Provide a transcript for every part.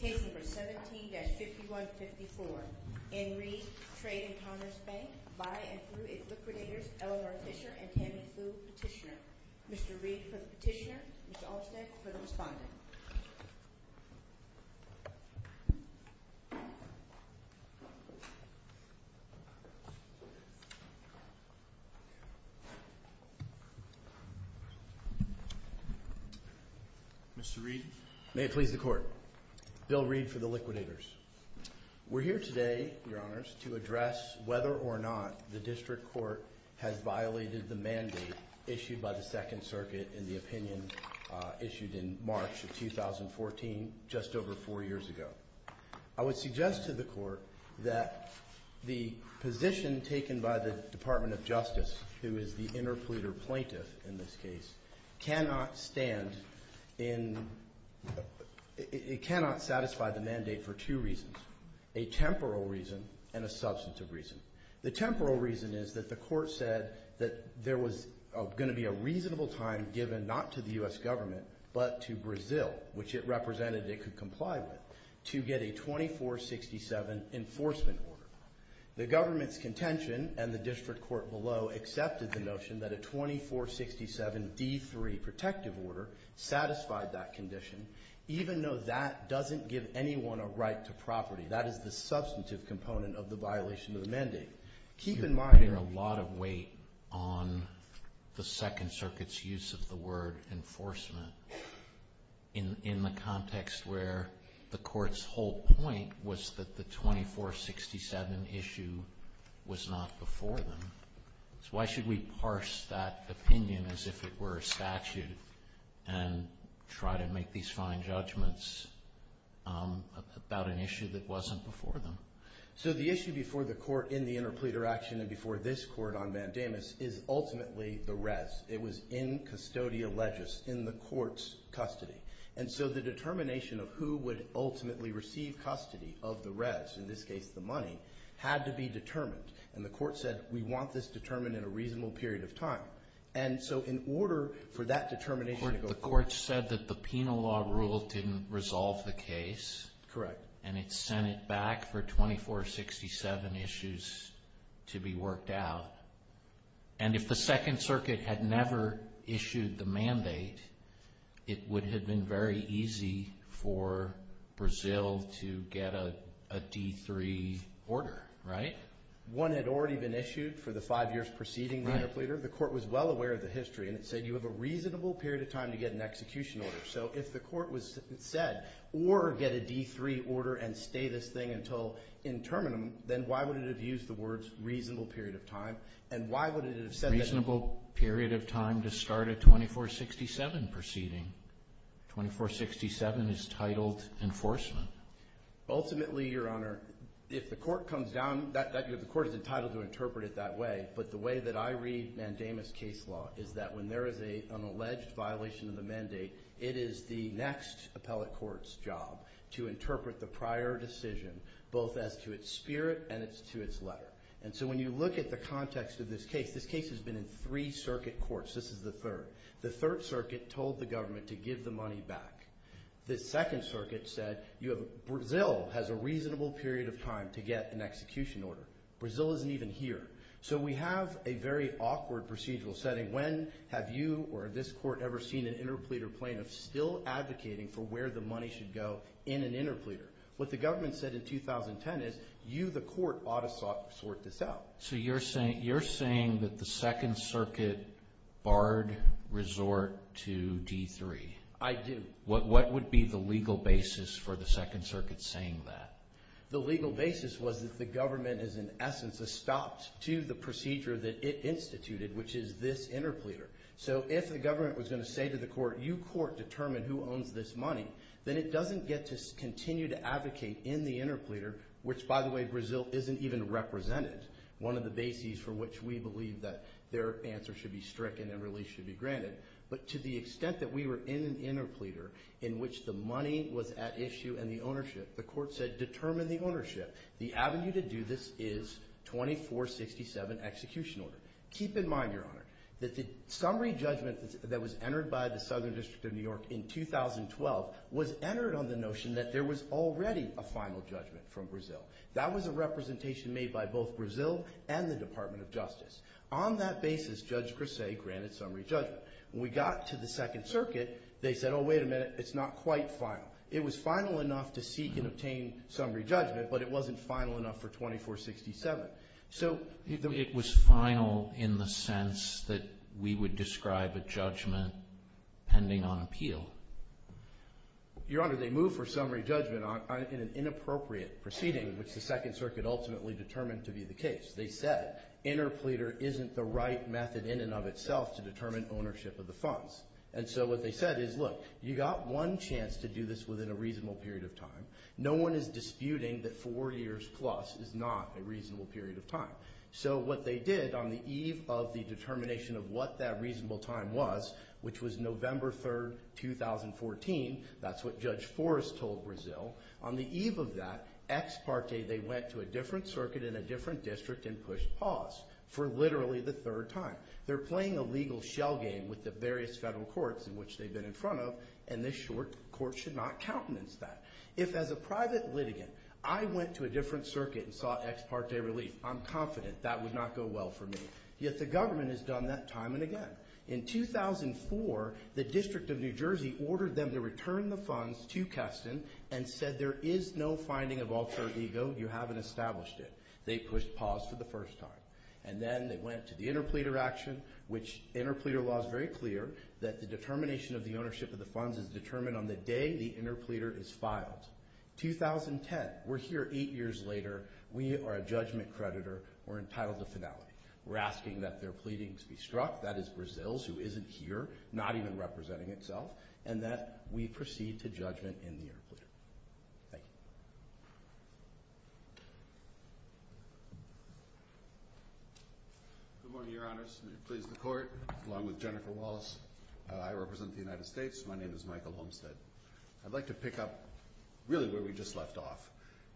Case number 17-5154. In Reed, Trade and Commerce Bank, by and through liquidators Eleanor Fisher and Tammy Fluh petitioner. Mr. Reed for the petitioner, Mr. Olstec for the respondent. Mr. Reed, may it please the court. Bill Reed for the liquidators. We're here today, your honors, to address whether or not the district court has violated the mandate issued by the Second Circuit in the opinion issued in March of 2014, just over four years ago. I would suggest to the court that the position taken by the Department of Justice, who is the interpleader plaintiff in this case, cannot stand in, it cannot satisfy the mandate for two reasons. A temporal reason and a substantive reason. The temporal reason is that the court said that there was going to be a reasonable time given, not to the U.S. government, but to Brazil, which it represented it could comply with, to get a 2467 enforcement order. The government's contention and the district court below accepted the notion that a 2467 D3 protective order satisfied that condition, even though that doesn't give anyone a right to property. That is the substantive component of the violation of the mandate. Keep in mind. You're putting a lot of weight on the Second Circuit's use of the word enforcement in the context where the court's whole point was that the 2467 issue was not before them. So why should we parse that opinion as if it were a statute and try to make these fine judgments about an issue that wasn't before them? So the issue before the court in the interpleader action and before this court on Vandamus is ultimately the res. It was in custodial legis, in the court's custody. And so the determination of who would ultimately receive custody of the res, in this case the money, had to be determined. And the court said, we want this determined in a reasonable period of time. And so in order for that determination to go forward. The court said that the penal law rule didn't resolve the case. Correct. And it sent it back for 2467 issues to be worked out. And if the Second Circuit had never issued the mandate, it would have been very easy for Brazil to get a D3 order, right? One had already been issued for the five years preceding the interpleader. The court was well aware of the history. And it said you have a reasonable period of time to get an execution order. So if the court was said, or get a D3 order and stay this thing until in terminum, then why would it have used the words reasonable period of time? And why would it have said that? Reasonable period of time to start a 2467 proceeding. 2467 is titled enforcement. Ultimately, Your Honor, if the court comes down, the court is entitled to interpret it that way. But the way that I read Mandamus case law is that when there is an alleged violation of the mandate, it is the next appellate court's job to interpret the prior decision, both as to its spirit and as to its letter. And so when you look at the context of this case, this case has been in three circuit courts. This is the third. The Third Circuit told the government to give the money back. The Second Circuit said Brazil has a reasonable period of time to get an execution order. Brazil isn't even here. So we have a very awkward procedural setting. When have you or this court ever seen an interpleader plaintiff still advocating for where the money should go in an interpleader? What the government said in 2010 is you, the court, ought to sort this out. So you're saying that the Second Circuit barred resort to D3? I do. What would be the legal basis for the Second Circuit saying that? The legal basis was that the government is, in essence, a stop to the procedure that it instituted, which is this interpleader. So if the government was going to say to the court, you, court, determine who owns this money, then it doesn't get to continue to advocate in the interpleader, which, by the way, Brazil isn't even represented, one of the bases for which we believe that their answer should be stricken and release should be granted. But to the extent that we were in an interpleader in which the money was at issue and the ownership, the court said, determine the ownership. The avenue to do this is 2467 execution order. Keep in mind, Your Honor, that the summary judgment that was entered by the Southern District of New York in 2012 was entered on the notion that there was already a final judgment from Brazil. That was a representation made by both Brazil and the Department of Justice. On that basis, Judge Grasse granted summary judgment. When we got to the Second Circuit, they said, oh, wait a minute, it's not quite final. It was final enough to seek and obtain summary judgment, but it wasn't final enough for 2467. So the... It was final in the sense that we would describe a judgment pending on appeal. Your Honor, they moved for summary judgment in an inappropriate proceeding, which the Second Circuit ultimately determined to be the case. They said interpleader isn't the right method in and of itself to determine ownership of the funds. And so what they said is, look, you got one chance to do this within a reasonable period of time. No one is disputing that four years plus is not a reasonable period of time. So what they did on the eve of the determination of what that reasonable time was, which was November 3rd, 2014, that's what Judge Forrest told Brazil. On the eve of that, ex parte, they went to a different circuit in a different district and pushed pause for literally the third time. They're playing a legal shell game with the various federal courts in which they've been in front of, and this short court should not countenance that. If, as a private litigant, I went to a different circuit and sought ex parte relief, I'm confident that would not go well for me. Yet the government has done that time and again. In 2004, the District of New Jersey ordered them to return the funds to Keston and said there is no finding of alter ego, you haven't established it. They pushed pause for the first time. And then they went to the interpleader action, which interpleader law is very clear that the determination of the ownership of the funds is determined on the day the interpleader is filed. 2010, we're here eight years later, we are a judgment creditor, we're entitled to finality. We're asking that their pleadings be struck, that is Brazil's, who isn't here, not even representing itself, and that we proceed to judgment in the interpleader. Thank you. Good morning, your honors. It pleases the court. Along with Jennifer Wallace, I represent the United States. My name is Michael Homestead. I'd like to pick up really where we just left off.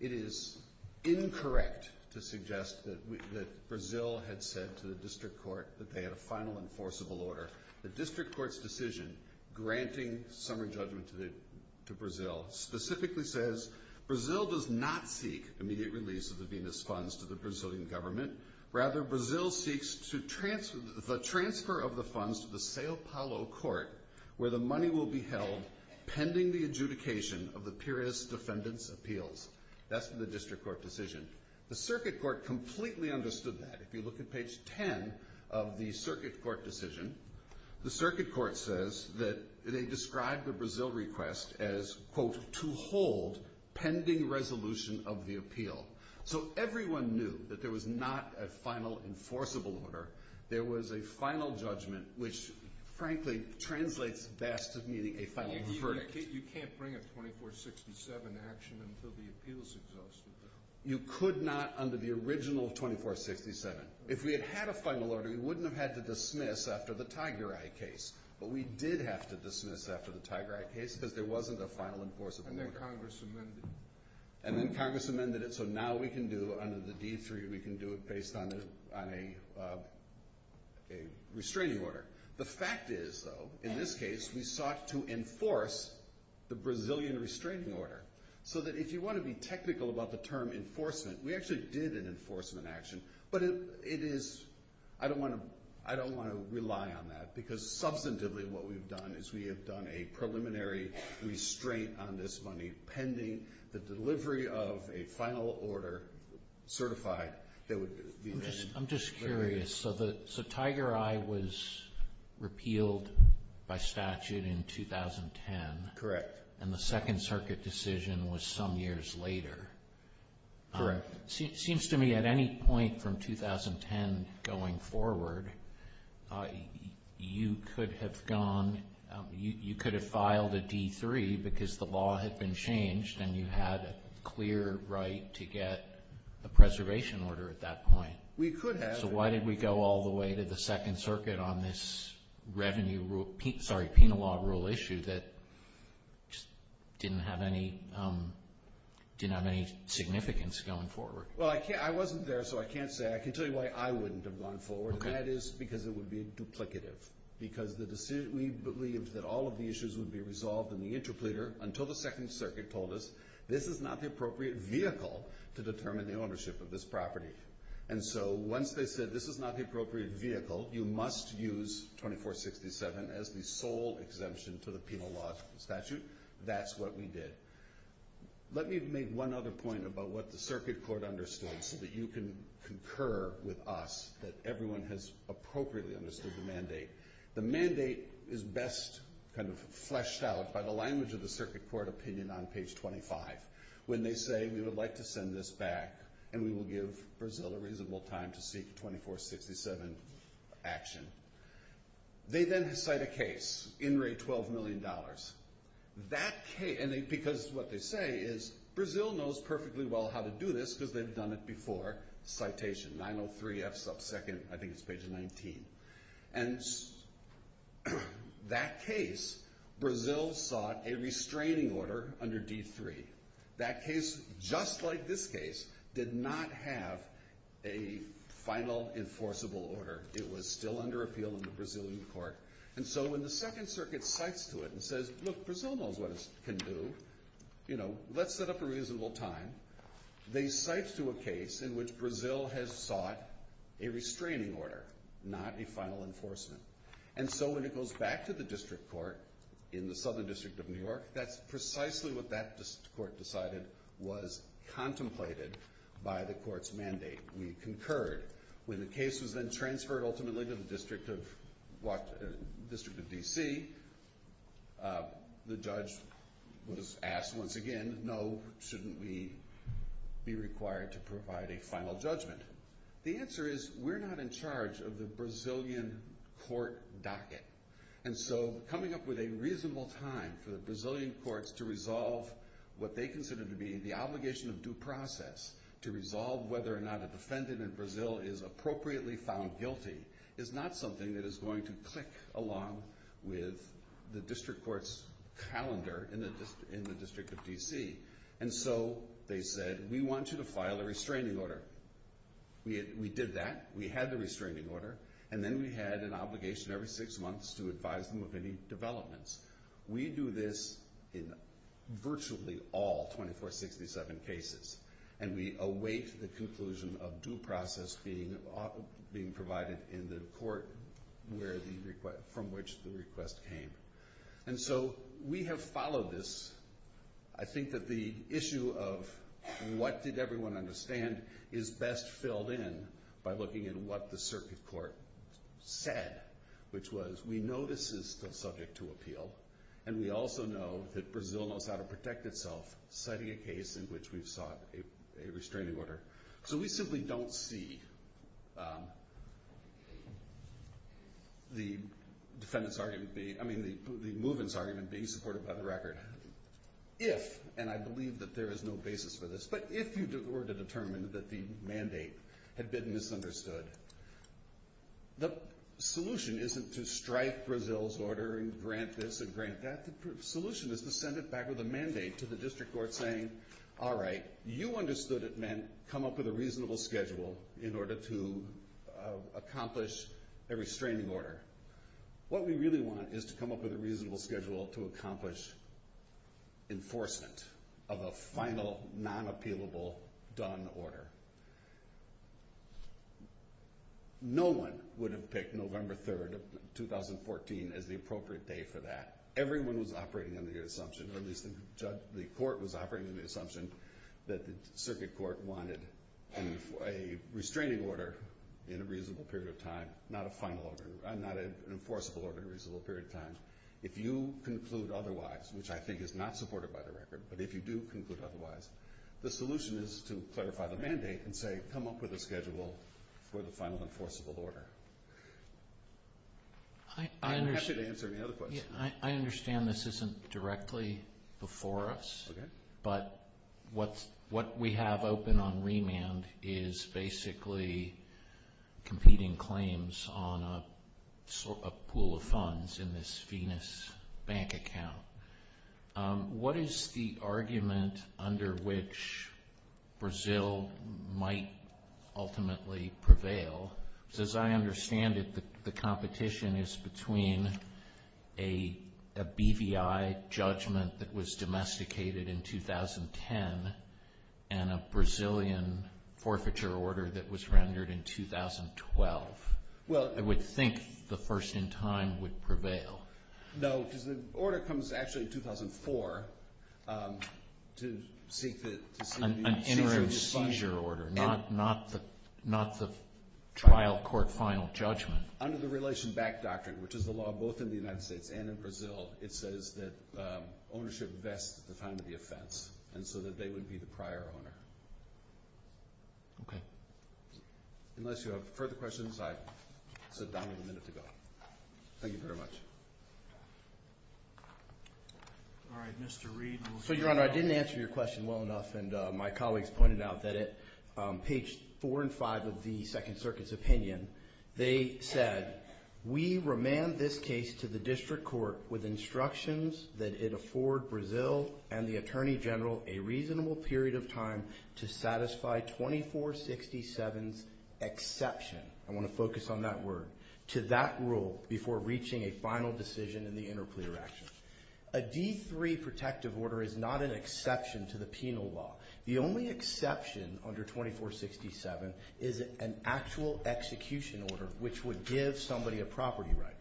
It is incorrect to suggest that Brazil had said to the district court that they had a final enforceable order. The district court's decision granting summary judgment to Brazil specifically says Brazil does not seek immediate release of the Venus funds to the Brazilian government. Rather, Brazil seeks to transfer the transfer of the funds to the Sao Paulo court, where the money will be held pending the adjudication of the purist defendant's appeals. That's the district court decision. The circuit court completely understood that. If you look at page 10 of the circuit court decision, the circuit court says that they of the appeal. So everyone knew that there was not a final enforceable order. There was a final judgment, which frankly translates best to meaning a final verdict. You can't bring a 2467 action until the appeal is exhausted, though. You could not under the original 2467. If we had had a final order, we wouldn't have had to dismiss after the Tiger Eye case. But we did have to dismiss after the Tiger Eye case because there wasn't a final enforceable order. And then Congress amended it. And then Congress amended it, so now we can do, under the D3, we can do it based on a restraining order. The fact is, though, in this case, we sought to enforce the Brazilian restraining order so that if you want to be technical about the term enforcement, we actually did an enforcement action, but it is, I don't want to rely on that because substantively what we've done is we have done a preliminary restraint on this money pending the delivery of a final order certified that would be made. I'm just curious. So Tiger Eye was repealed by statute in 2010. Correct. And the Second Circuit decision was some years later. Correct. It seems to me at any point from 2010 going forward, you could have gone, you could have filed a D3 because the law had been changed and you had a clear right to get a preservation order at that point. We could have. So why did we go all the way to the Second Circuit on this revenue, sorry, penal law that just didn't have any significance going forward? Well, I wasn't there, so I can't say. I can tell you why I wouldn't have gone forward, and that is because it would be duplicative because we believed that all of the issues would be resolved in the interpreter until the Second Circuit told us this is not the appropriate vehicle to determine the ownership of this property. And so once they said this is not the appropriate vehicle, you must use 2467 as the sole exemption to the penal law statute. That's what we did. Let me make one other point about what the Circuit Court understood so that you can concur with us that everyone has appropriately understood the mandate. The mandate is best kind of fleshed out by the language of the Circuit Court opinion on page 25 when they say we would like to send this back and we will give Brazil a reasonable time to seek 2467 action. They then cite a case, INRAE $12 million. That case, and because what they say is Brazil knows perfectly well how to do this because they've done it before, citation 903 F sub 2nd, I think it's page 19. And that case, Brazil sought a restraining order under D3. That case, just like this case, did not have a final enforceable order. It was still under appeal in the Brazilian court. And so when the Second Circuit cites to it and says, look, Brazil knows what it can do. You know, let's set up a reasonable time. They cite to a case in which Brazil has sought a restraining order, not a final enforcement. And so when it goes back to the district court in the Southern District of New York, that's precisely what that court decided was contemplated by the court's mandate. We concurred. When the case was then transferred ultimately to the District of DC, the judge was asked once again, no, shouldn't we be required to provide a final judgment? The answer is we're not in charge of the Brazilian court docket. And so coming up with a reasonable time for the Brazilian courts to resolve what they is appropriately found guilty is not something that is going to click along with the district court's calendar in the District of DC. And so they said, we want you to file a restraining order. We did that. We had the restraining order. And then we had an obligation every six months to advise them of any developments. We do this in virtually all 2467 cases. And we await the conclusion of due process being provided in the court from which the request came. And so we have followed this. I think that the issue of what did everyone understand is best filled in by looking at what the circuit court said, which was we know this is still subject to appeal. And we also know that Brazil knows how to protect itself, citing a case in which we've sought a restraining order. So we simply don't see the defendant's argument being, I mean, the movement's argument being supported by the record. If, and I believe that there is no basis for this, but if you were to determine that the mandate had been misunderstood, the solution isn't to strike Brazil's order and grant this or grant that. The solution is to send it back with a mandate to the district court saying, all right, you understood it meant come up with a reasonable schedule in order to accomplish a restraining order. What we really want is to come up with a reasonable schedule to accomplish enforcement of a final non-appealable done order. No one would have picked November 3rd of 2014 as the appropriate day for that. Everyone was operating under the assumption, or at least the court was operating under the assumption that the circuit court wanted a restraining order in a reasonable period of time, not a final order, not an enforceable order in a reasonable period of time. If you conclude otherwise, which I think is not supported by the record, but if you do conclude otherwise, the solution is to clarify the mandate and say, come up with a schedule for the final enforceable order. I'm happy to answer any other questions. I understand this isn't directly before us, but what we have open on remand is basically competing claims on a pool of funds in this Venus bank account. What is the argument under which Brazil might ultimately prevail? Because as I understand it, the competition is between a BVI judgment that was domesticated in 2010 and a Brazilian forfeiture order that was rendered in 2012. I would think the first in time would prevail. No, because the order comes actually in 2004 to seek the seizure of funds. An interim seizure order, not the trial court final judgment. Under the relation back doctrine, which is the law both in the United States and in Brazil, it says that ownership vests the time of the offense, and so that they would be the prior owner. Okay. Unless you have further questions, I sat down with a minute to go. Thank you very much. All right, Mr. Reed. Your Honor, I didn't answer your question well enough, and my colleagues pointed out that at page four and five of the Second Circuit's opinion, they said, we remand this case to the district court with instructions that it afford Brazil and the Attorney General a reasonable period of time to satisfy 2467's exception. I want to focus on that word. To that rule before reaching a final decision in the interplea action. A D3 protective order is not an exception to the penal law. The only exception under 2467 is an actual execution order, which would give somebody a property right.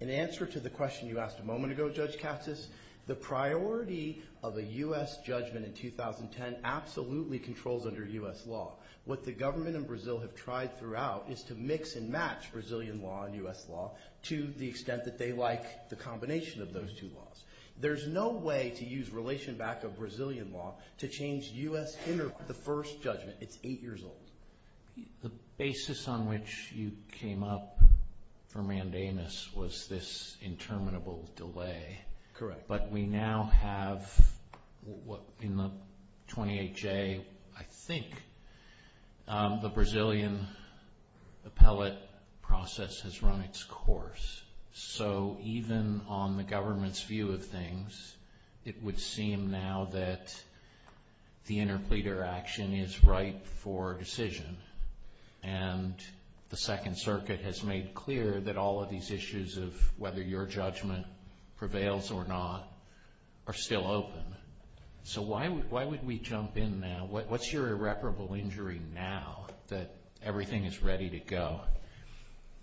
In answer to the question you asked a moment ago, Judge Cassis, the priority of a U.S. judgment in 2010 absolutely controls under U.S. law. What the government in Brazil have tried throughout is to mix and match Brazilian law and U.S. law to the extent that they like the combination of those two laws. There's no way to use relation back of Brazilian law to change U.S. in the first judgment. It's eight years old. The basis on which you came up for mandamus was this interminable delay. Correct. But we now have in the 28J, I think, the Brazilian appellate process has run its course. So even on the government's view of things, it would seem now that the interplea action is right for decision. And the Second Circuit has made clear that all of these issues of whether your judgment prevails or not are still open. So why would we jump in now? What's your irreparable injury now that everything is ready to go?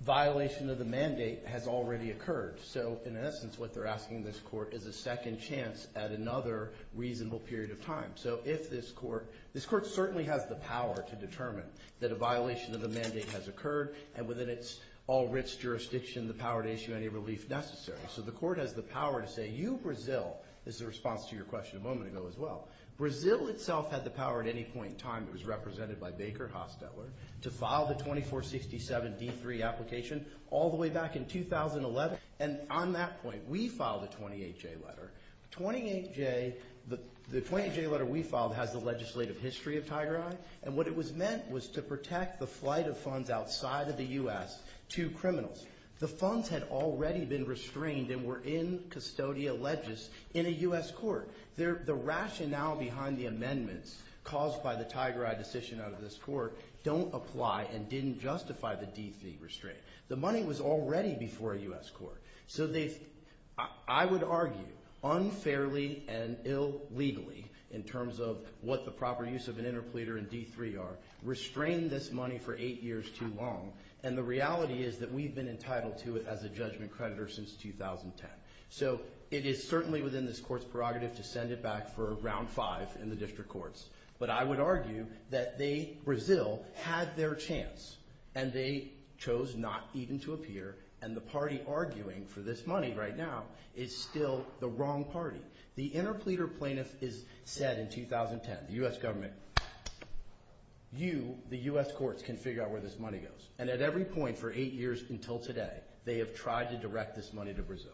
Violation of the mandate has already occurred. So, in essence, what they're asking this Court is a second chance at another reasonable period of time. So if this Court, this Court certainly has the power to determine that a violation of the mandate has occurred and within its all-writs jurisdiction the power to issue any relief necessary. So the Court has the power to say, you Brazil, this is a response to your question a moment ago as well, Brazil itself had the power at any point in time, it was represented by Baker, Hostetler, to file the 2467 D3 application all the way back in 2011. And on that point, we filed a 28J letter. The 28J letter we filed has the legislative history of Tiger Eye and what it was meant was to protect the flight of funds outside of the U.S. to criminals. The funds had already been restrained and were in custodial ledges in a U.S. court. The rationale behind the amendments caused by the Tiger Eye decision out of this Court don't apply and didn't justify the D3 restraint. The money was already before a U.S. court. So they've, I would argue, unfairly and illegally in terms of what the proper use of an interpleader and D3 are, restrained this money for eight years too long and the reality is that we've been entitled to it as a judgment creditor since 2010. So it is certainly within this Court's prerogative to send it back for round five in the district courts. But I would argue that they, Brazil, had their chance and they chose not even to appear and the party arguing for this money right now is still the wrong party. The interpleader plaintiff said in 2010, the U.S. government, you, the U.S. courts, can figure out where this money goes and at every point for eight years until today, they have tried to direct this money to Brazil.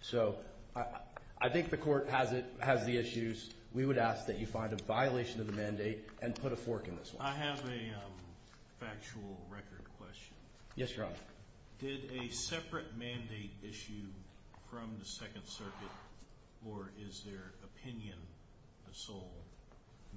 So I think the Court has the issues. We would ask that you find a violation of the mandate and put a fork in this one. I have a factual record question. Yes, Your Honor. Did a separate mandate issue from the Second Circuit or is their opinion the sole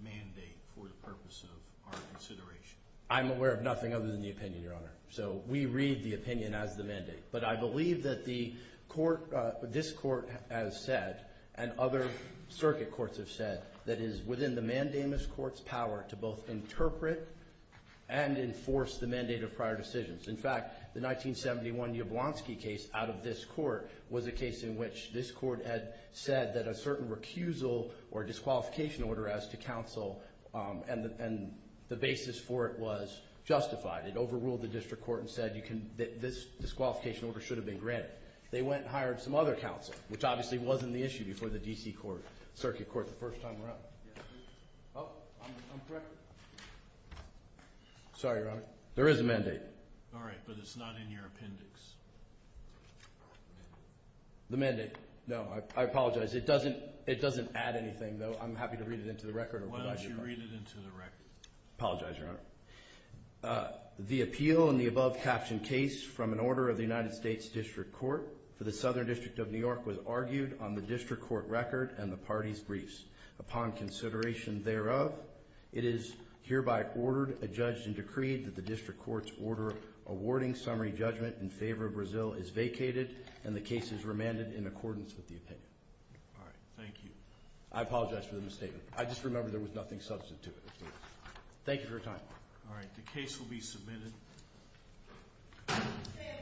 mandate for the purpose of our consideration? I'm aware of nothing other than the opinion, Your Honor. So we read the opinion as the mandate. But I believe that the Court, this Court has said, and other circuit courts have said, that it is within the mandamus court's power to both interpret and enforce the mandate of prior decisions. In fact, the 1971 Jablonski case out of this court was a case in which this court had said that a certain recusal or disqualification order as to counsel and the basis for it was justified. It overruled the district court and said that this disqualification order should have been granted. They went and hired some other counsel, which obviously wasn't the issue before the D.C. Circuit Court the first time around. Oh, I'm correct? Sorry, Your Honor. There is a mandate. All right, but it's not in your appendix. The mandate. No, I apologize. It doesn't add anything, though. I'm happy to read it into the record. Why don't you read it into the record? I apologize, Your Honor. The appeal in the above-captioned case from an order of the United States District Court for the Southern District of New York was argued on the district court record and the party's briefs. Upon consideration thereof, it is hereby ordered, adjudged, and decreed that the district court's order awarding summary judgment in favor of Brazil is vacated and the case is remanded in accordance with the opinion. All right. Thank you. I apologize for the misstatement. I just remember there was nothing substantive. Thank you for your time. All right.